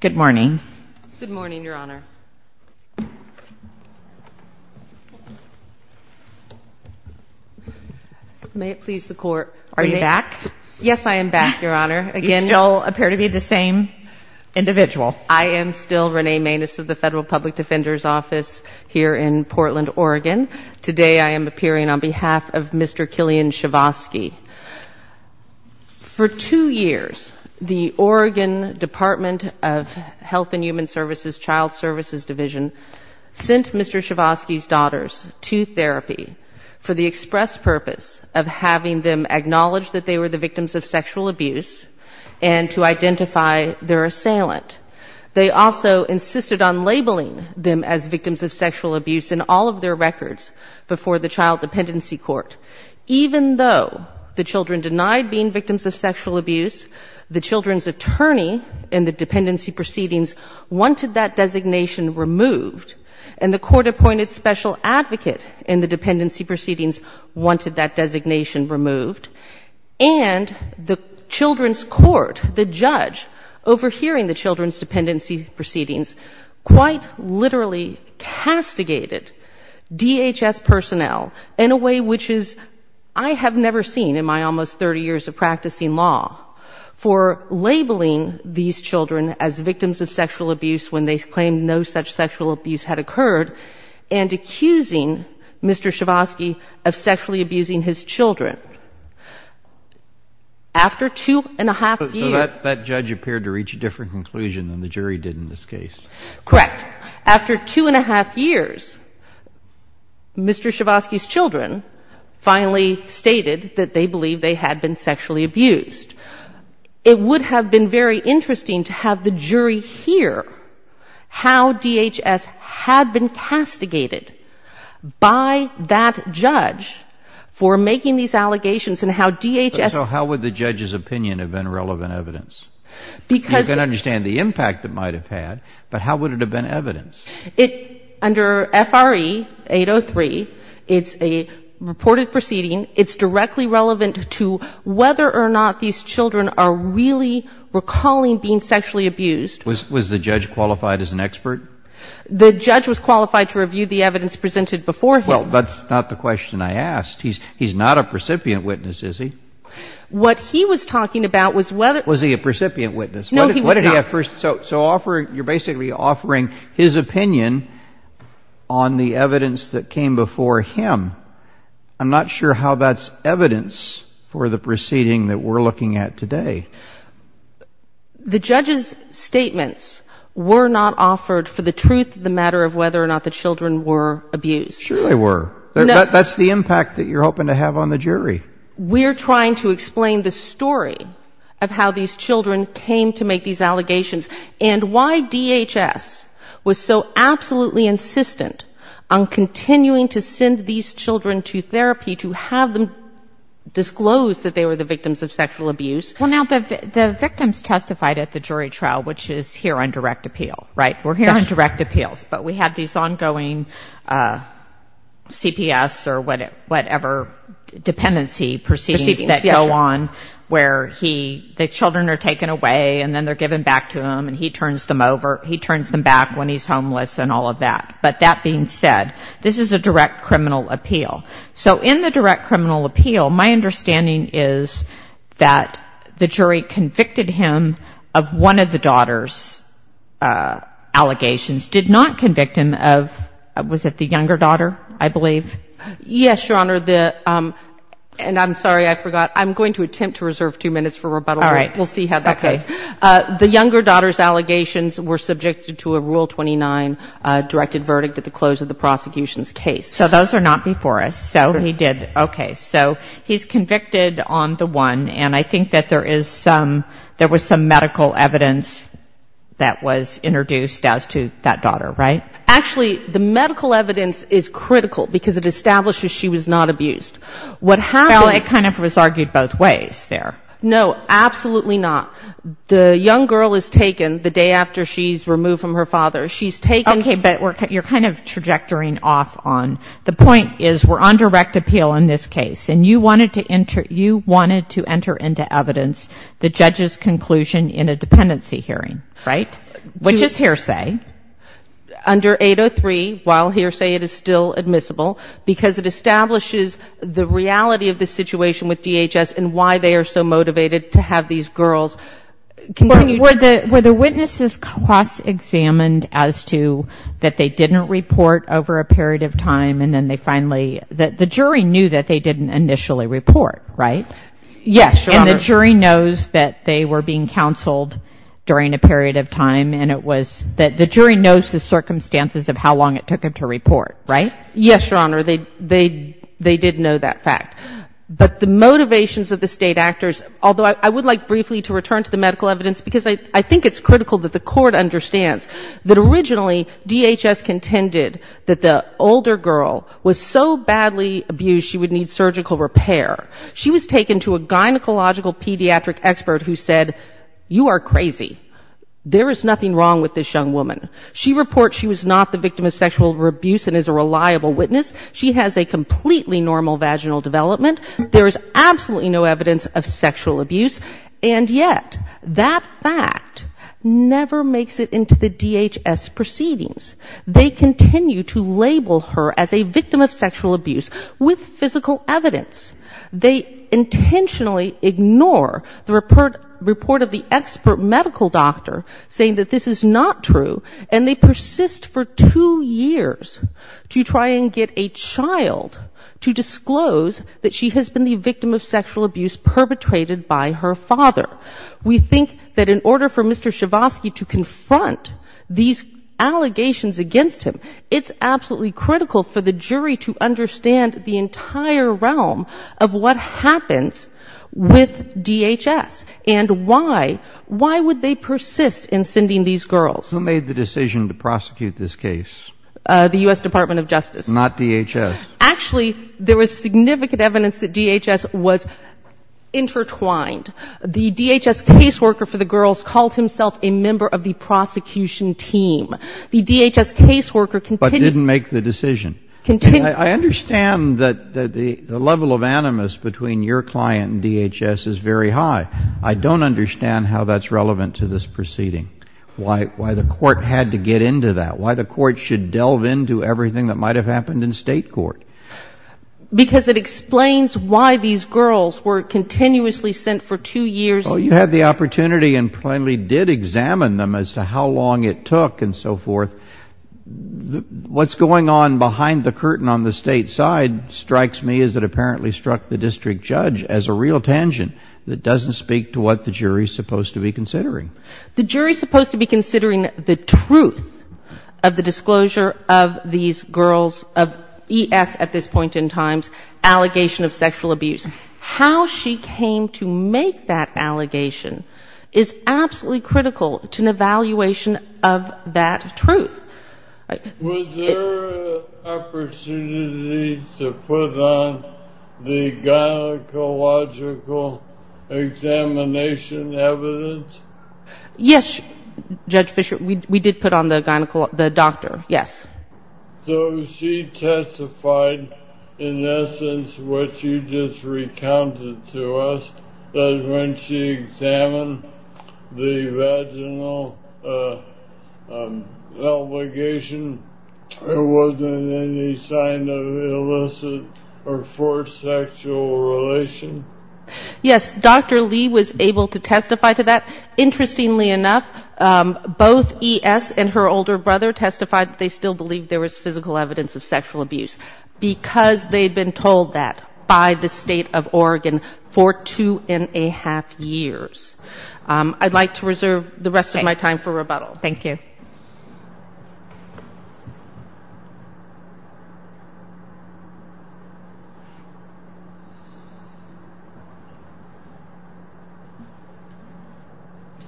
Good morning. Good morning, Your Honor. May it please the Court. Are you back? Yes, I am back, Your Honor. You still appear to be the same individual. I am still Renee Maness of the Federal Public Defender's Office here in Portland, Oregon. Today I am appearing on behalf of Mr. Kilunnun Chivoski. For two years, the Oregon Department of Health and Human Services Child Services Division sent Mr. Chivoski's daughters to therapy for the express purpose of having them acknowledge that they were the victims of sexual abuse and to identify their assailant. They also insisted on labeling them as victims of sexual abuse in all of their records before the Child Dependency Court, even though the children denied being victims of sexual abuse, the children's attorney in the dependency proceedings wanted that designation removed, and the court-appointed special advocate in the dependency proceedings wanted that designation removed. And the children's court, the judge overhearing the children's dependency proceedings, quite literally castigated DHS personnel in a way which is I have never seen in my almost 30 years of practicing law for labeling these children as victims of sexual abuse when they claimed no such sexual abuse had occurred and accusing Mr. Chivoski of sexually abusing his children. After two and a half years — So that judge appeared to reach a different conclusion than the jury did in this case. Correct. Correct. After two and a half years, Mr. Chivoski's children finally stated that they believed they had been sexually abused. It would have been very interesting to have the jury hear how DHS had been castigated by that judge for making these allegations and how DHS — So how would the judge's opinion have been relevant evidence? Because — So how would the judge's opinion have been relevant evidence? Under F.R.E. 803, it's a reported proceeding. It's directly relevant to whether or not these children are really recalling being sexually abused. Was the judge qualified as an expert? The judge was qualified to review the evidence presented before him. Well, that's not the question I asked. He's not a precipient witness, is he? What he was talking about was whether — Was he a precipient witness? No, he was not. So you're basically offering his opinion on the evidence that came before him. I'm not sure how that's evidence for the proceeding that we're looking at today. The judge's statements were not offered for the truth of the matter of whether or not the children were abused. Sure they were. That's the impact that you're hoping to have on the jury. We're trying to explain the story of how these children came to make these allegations and why DHS was so absolutely insistent on continuing to send these children to therapy to have them disclose that they were the victims of sexual abuse. Well, now, the victims testified at the jury trial, which is here on direct appeal, right? We're here on direct appeals. But we have these ongoing CPS or whatever dependency proceedings that go on where the children are taken away and then they're given back to him and he turns them over. He turns them back when he's homeless and all of that. But that being said, this is a direct criminal appeal. So in the direct criminal appeal, my understanding is that the jury convicted him of one of the daughter's allegations, did not convict him of, was it the younger daughter, I believe? Yes, Your Honor. And I'm sorry, I forgot. I'm going to attempt to reserve two minutes for rebuttal. All right. We'll see how that goes. The younger daughter's allegations were subjected to a Rule 29 directed verdict at the close of the prosecution's case. So those are not before us. So he did. Okay. So he's convicted on the one. And I think that there is some, there was some medical evidence that was introduced as to that daughter, right? Actually, the medical evidence is critical, because it establishes she was not abused. What happened... Well, it kind of was argued both ways there. No, absolutely not. The young girl is taken the day after she's removed from her father. She's taken... Okay. But you're kind of trajectory off on. The point is we're on direct appeal in this case. And you wanted to enter into evidence the judge's conclusion in a dependency hearing, right? Which is hearsay. Under 803, while hearsay, it is still admissible, because it establishes the reality of the situation with DHS and why they are so motivated to have these girls continue... Were the witnesses cross-examined as to that they didn't report over a period of time, and then they finally, the jury knew that they didn't initially report, right? Yes, Your Honor. And the jury knows that they were being counseled during a period of time, and it was that the jury knows the circumstances of how long it took them to report, right? Yes, Your Honor. They did know that fact. But the motivations of the State actors, although I would like briefly to return to the medical evidence, because I think it's critical that the court understands that originally DHS contended that the older girl was so badly abused she would need surgical repair. She was taken to a gynecological pediatric expert who said, you are crazy. There is nothing wrong with this young woman. She reports she was not the victim of sexual abuse and is a reliable witness. She has a completely normal vaginal development. There is absolutely no evidence of sexual abuse. And yet, that fact never makes it into the DHS proceedings. They continue to label her as a victim of sexual abuse with physical evidence. They intentionally ignore the report of the expert medical doctor saying that this is not true, and they persist for two years to try and get a child to disclose that she's been sexually abused. She has been the victim of sexual abuse perpetrated by her father. We think that in order for Mr. Schavosky to confront these allegations against him, it's absolutely critical for the jury to understand the entire realm of what happens with DHS and why, why would they persist in sending these girls. Who made the decision to prosecute this case? The U.S. Department of Justice. Not DHS. Actually, there was significant evidence that DHS was intertwined. The DHS caseworker for the girls called himself a member of the prosecution team. The DHS caseworker continued. But didn't make the decision. Continued. I understand that the level of animus between your client and DHS is very high. I don't understand how that's relevant to this proceeding, why the court had to get into that, why the court should delve into everything that might have happened in state court. Because it explains why these girls were continuously sent for two years. You had the opportunity and plainly did examine them as to how long it took and so forth. What's going on behind the curtain on the state side strikes me as it apparently struck the district judge as a real tangent that doesn't speak to what the jury is supposed to be considering. The jury is supposed to be considering the truth of the disclosure of these girls of E.S. at this point in time's allegation of sexual abuse. How she came to make that allegation is absolutely critical to an evaluation of that truth. Was there an opportunity to put on the gynecological examination evidence? Yes, Judge Fischer, we did put on the gynecological, the doctor, yes. So she testified in essence what you just recounted to us, that when she examined the vaginal allegation, there wasn't any sign of illicit or forced sexual relation? Yes, Dr. Lee was able to testify to that. Interestingly enough, both E.S. and her older brother testified that they still believed there was physical evidence of sexual abuse. Because they had been told that by the state of Oregon for two and a half years. I'd like to reserve the rest of my time for rebuttal.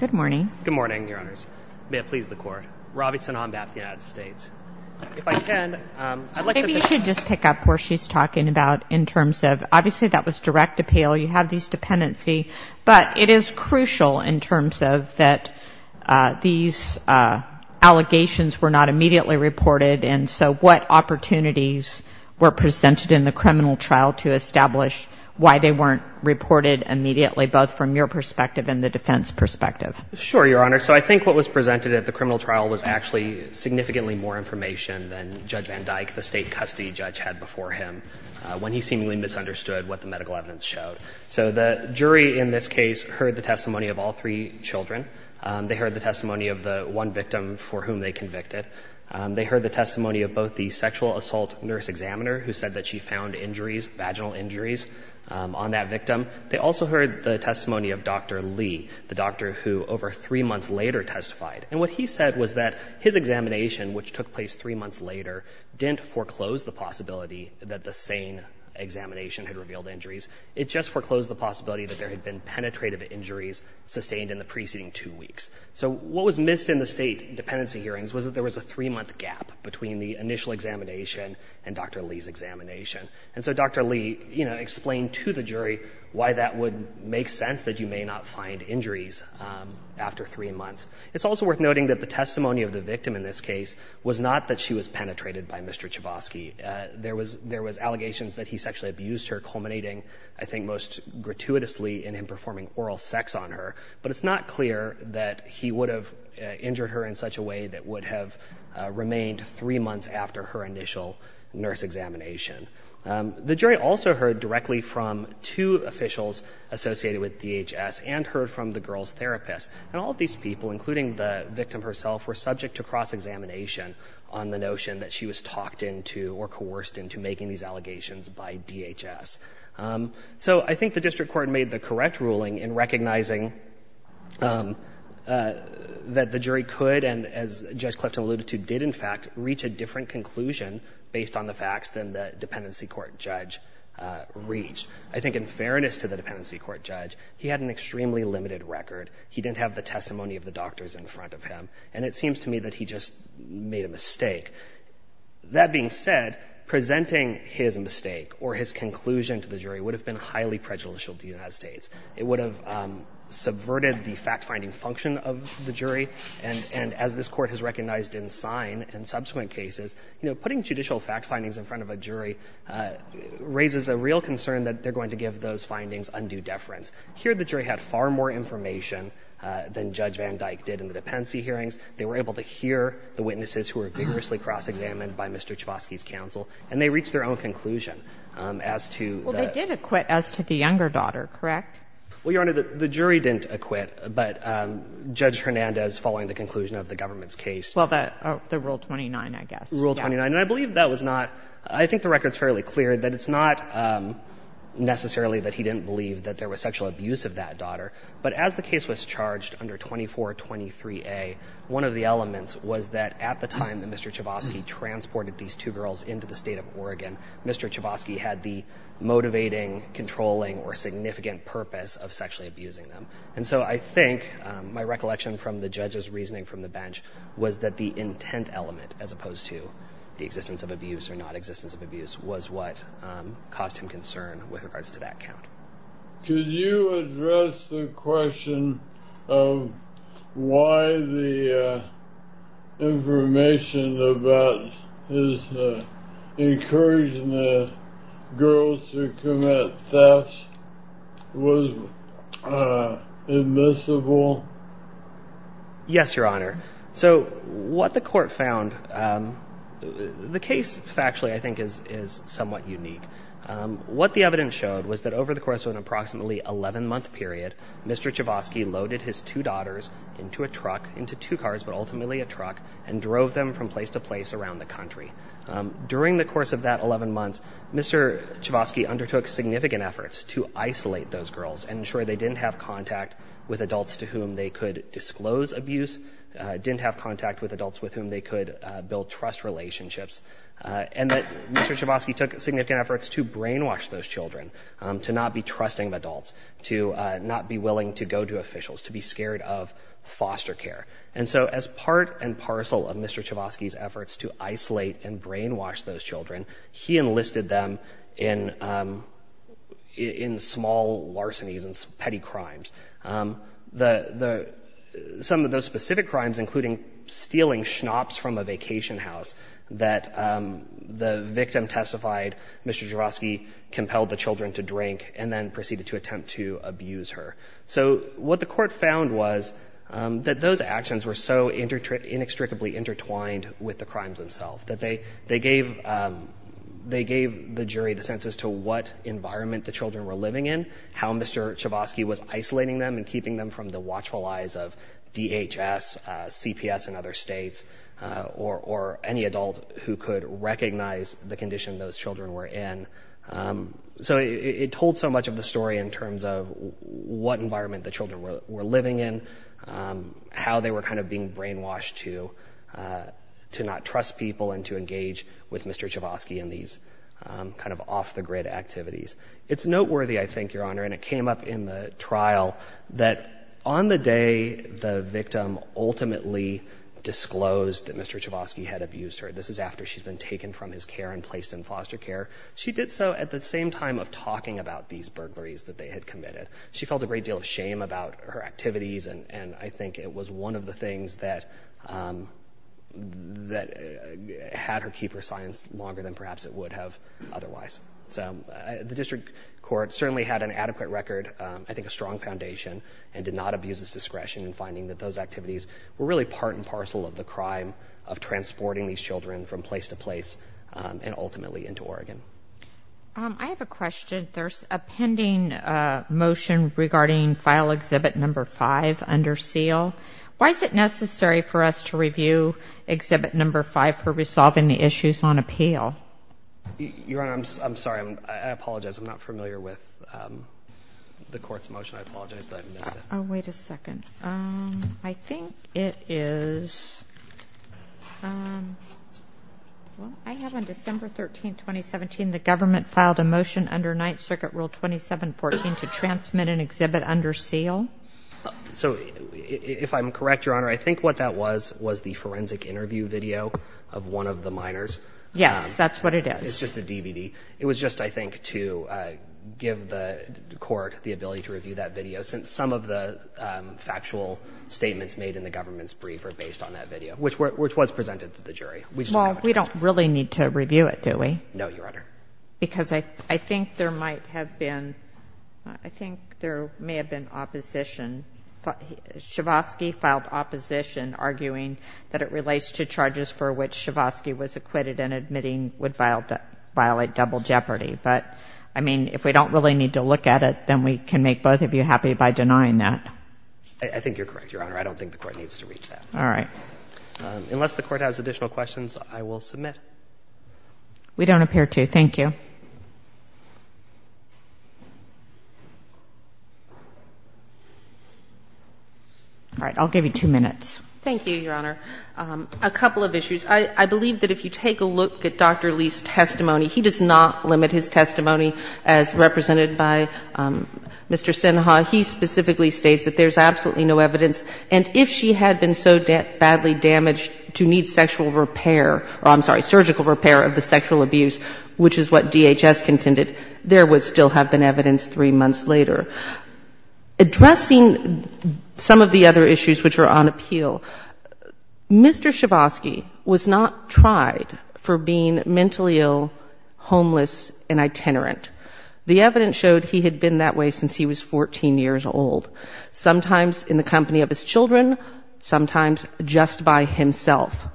Good morning. Good morning, Your Honors. May it please the Court. Robison, Hombath, United States. Maybe you should just pick up where she's talking about in terms of, obviously that was direct appeal. You have these dependency. But it is crucial in terms of that these allegations were not immediately reported. And so what opportunities were presented in the criminal trial to establish why they weren't reported immediately, both from your perspective and the defense perspective? Sure, Your Honor. So I think what was presented at the criminal trial was actually significantly more information than Judge Van Dyke, the state custody judge, had before him when he seemingly misunderstood what the medical evidence showed. So the jury in this case heard the testimony of all three children. They heard the testimony of the one victim for whom they convicted. They heard the testimony of both the sexual assault nurse examiner who said that she found injuries, vaginal injuries, on that victim. They also heard the testimony of Dr. Lee, the doctor who over three months later testified. And what he said was that his examination, which took place three months later, didn't foreclose the possibility that the same examination had revealed injuries. It just foreclosed the possibility that there had been penetrative injuries sustained in the preceding two weeks. So what was missed in the state dependency hearings was that there was a three-month gap between the initial examination and Dr. Lee's examination. And so Dr. Lee, you know, explained to the jury why that would make sense that you may not find injuries after three months. It's also worth noting that the testimony of the victim in this case was not that she was penetrated by Mr. Chbosky. There was allegations that he sexually abused her, culminating, I think, most gratuitously in him performing oral sex on her. But it's not clear that he would have injured her in such a way that would have remained three months after her initial nurse examination. The jury also heard directly from two officials associated with DHS and heard from the girl's therapist. And all of these people, including the victim herself, were subject to cross-examination on the notion that she was talked into or coerced into making these allegations by DHS. So I think the district court made the correct ruling in recognizing that the jury could, and as Judge Clifton alluded to, did in fact reach a different conclusion based on the facts than the dependency court judge reached. I think in fairness to the dependency court judge, he had an extremely limited record. He didn't have the testimony of the doctors in front of him. I think that presenting his mistake or his conclusion to the jury would have been highly prejudicial to the United States. It would have subverted the fact-finding function of the jury. And as this Court has recognized in sign in subsequent cases, you know, putting judicial fact findings in front of a jury raises a real concern that they're going to give those findings undue deference. Here, the jury had far more information than Judge Van Dyke did in the dependency hearings. They were able to hear the witnesses who were vigorously cross-examined by Mr. Chvosky's counsel. And they reached their own conclusion as to the — Well, they did acquit as to the younger daughter, correct? Well, Your Honor, the jury didn't acquit, but Judge Hernandez, following the conclusion of the government's case — Well, the Rule 29, I guess. Rule 29. And I believe that was not — I think the record's fairly clear that it's not necessarily that he didn't believe that there was sexual abuse of that daughter. But as the case was charged under 2423A, one of the elements was that at the time that Mr. Chvosky transported these two girls into the state of Oregon, Mr. Chvosky had the motivating, controlling, or significant purpose of sexually abusing them. And so I think my recollection from the judge's reasoning from the bench was that the intent element, as opposed to the existence of abuse or non-existence of abuse, was what caused him concern with regards to that count. Could you address the question of why the information about his encouraging the girls to commit thefts was admissible? Yes, Your Honor. So what the court found — the case, factually, I think is somewhat unique. What the evidence showed was that over the course of an approximately 11-month period, Mr. Chvosky loaded his two daughters into a truck — into two cars, but ultimately a truck — and drove them from place to place around the country. During the course of that 11 months, Mr. Chvosky undertook significant efforts to isolate those girls and ensure they didn't have contact with adults to whom they could disclose abuse, didn't have contact with adults with whom they could build trust relationships, and that Mr. Chvosky took significant efforts to brainwash those children to not be trusting of adults, to not be willing to go to officials, to be scared of foster care. And so as part and parcel of Mr. Chvosky's efforts to isolate and brainwash those children, he enlisted them in small larcenies and petty crimes. Some of those specific crimes, including stealing schnapps from a vacation house that the victim testified Mr. Chvosky compelled the children to drink and then proceeded to attempt to abuse her. So what the Court found was that those actions were so inextricably intertwined with the crimes themselves that they gave the jury the sense as to what environment the children were living in, how Mr. Chvosky was isolating them and keeping them from the watchful eyes of DHS, CPS in other states, or any adult who could recognize the condition those children were in. So it told so much of the story in terms of what environment the children were living in, how they were kind of being brainwashed to not trust people and to engage with Mr. Chvosky in these kind of off-the-grid activities. It's noteworthy, I think, Your Honor, and it came up in the trial, that on the day the victim ultimately disclosed that Mr. Chvosky had abused her, this is after she's been taken from his care and placed in foster care, she did so at the same time of talking about these burglaries that they had committed. She felt a great deal of shame about her activities, and I think it was one of the things that had her keep her silence longer than perhaps it would have otherwise. So the district court certainly had an adequate record, I think a strong foundation, and did not abuse its discretion in finding that those activities were really part and parcel of the crime of transporting these children from place to place and ultimately into Oregon. I have a question. There's a pending motion regarding File Exhibit No. 5 under SEAL. Why is it necessary for us to review Exhibit No. 5 for resolving the issues on appeal? Your Honor, I'm sorry. I apologize. I'm not familiar with the Court's motion. I apologize that I missed it. Oh, wait a second. I think it is, well, I have on December 13, 2017, the government filed a motion under Ninth Circuit Rule 2714 to transmit an exhibit under SEAL. So if I'm correct, Your Honor, I think what that was was the forensic interview video of one of the minors. Yes, that's what it is. It's just a DVD. It was just, I think, to give the Court the ability to review that video since some of the factual statements made in the government's brief are based on that video, which was presented to the jury. Well, we don't really need to review it, do we? No, Your Honor. Because I think there might have been, I think there may have been opposition. Shavosky filed opposition arguing that it relates to charges for which Shavosky was acquitted and admitting would violate double jeopardy. But, I mean, if we don't really need to look at it, then we can make both of you happy by denying that. I think you're correct, Your Honor. I don't think the Court needs to reach that. All right. Unless the Court has additional questions, I will submit. We don't appear to. Thank you. All right. I'll give you two minutes. Thank you, Your Honor. A couple of issues. I believe that if you take a look at Dr. Lee's testimony, he does not limit his testimony as represented by Mr. Sinha. He specifically states that there's absolutely no evidence, and if she had been so badly damaged to need sexual repair, I'm sorry, surgical repair of the sexual abuse, which is what DHS contended, there would still have been evidence three months later. Addressing some of the other issues which are on appeal, Mr. Shavosky was not tried for being mentally ill, homeless and itinerant. The evidence showed he had been that way since he was 14 years old, sometimes in the company of his children, sometimes just by himself.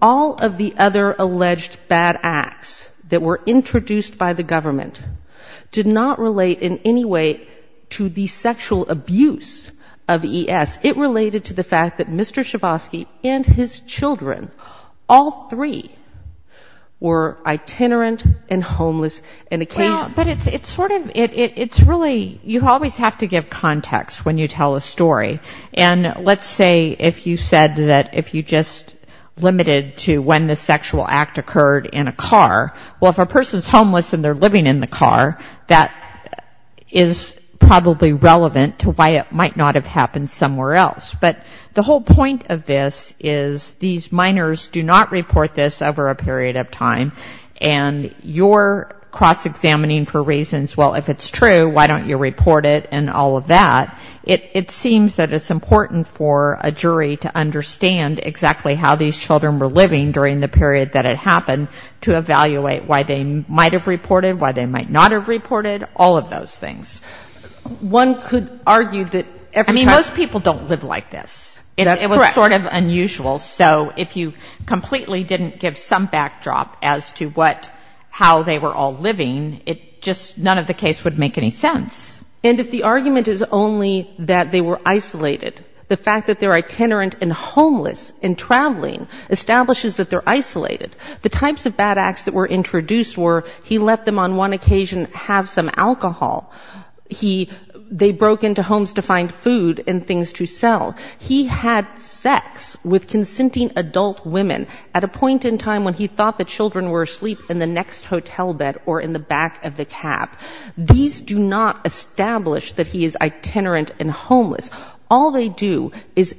All of the other alleged bad acts that were introduced by the government did not relate in any way to the sexual abuse of ES. It related to the fact that Mr. Shavosky and his children, all three, were itinerant and homeless. But it's sort of, it's really, you always have to give context when you tell a story. And let's say if you said that if you just limited to when the sexual act occurred in a car, well, if a person's homeless and they're living in the car, that is probably relevant to why it might not have happened somewhere else. But the whole point of this is these minors do not report this over a period of time. And you're cross-examining for reasons, well, if it's true, why don't you report it and all of that. It seems that it's important for a jury to understand exactly how these children were living during the period that it happened to evaluate why they might have reported, why they might not have reported, all of those things. It was sort of unusual, so if you completely didn't give some backdrop as to what, how they were all living, it just, none of the case would make any sense. And if the argument is only that they were isolated, the fact that they're itinerant and homeless and traveling establishes that they're isolated. The types of bad acts that were introduced were he let them on one occasion have some alcohol, he, they broke into homes to find food and things to sell. He had sex with consenting adult women at a point in time when he thought the children were asleep in the next hotel bed or in the back of the cab. These do not establish that he is itinerant and homeless. All they do is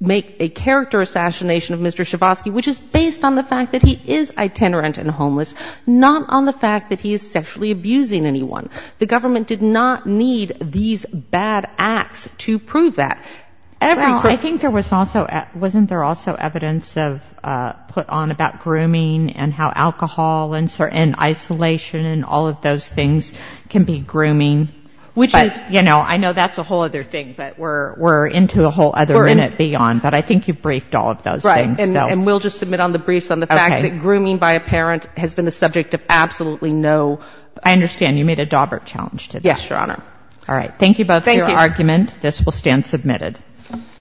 make a character assassination of Mr. Shavosky, which is based on the fact that he is itinerant and homeless, not on the fact that he is sexually abusing anyone. The government did not need these bad acts to prove that. I think there was also, wasn't there also evidence of, put on about grooming and how alcohol and isolation and all of those things can be grooming? Which is, you know, I know that's a whole other thing, but we're into a whole other minute beyond. But I think you briefed all of those things. And we'll just submit on the briefs on the fact that grooming by a parent has been the subject of absolutely no I understand. You made a dauber challenge to this, Your Honor.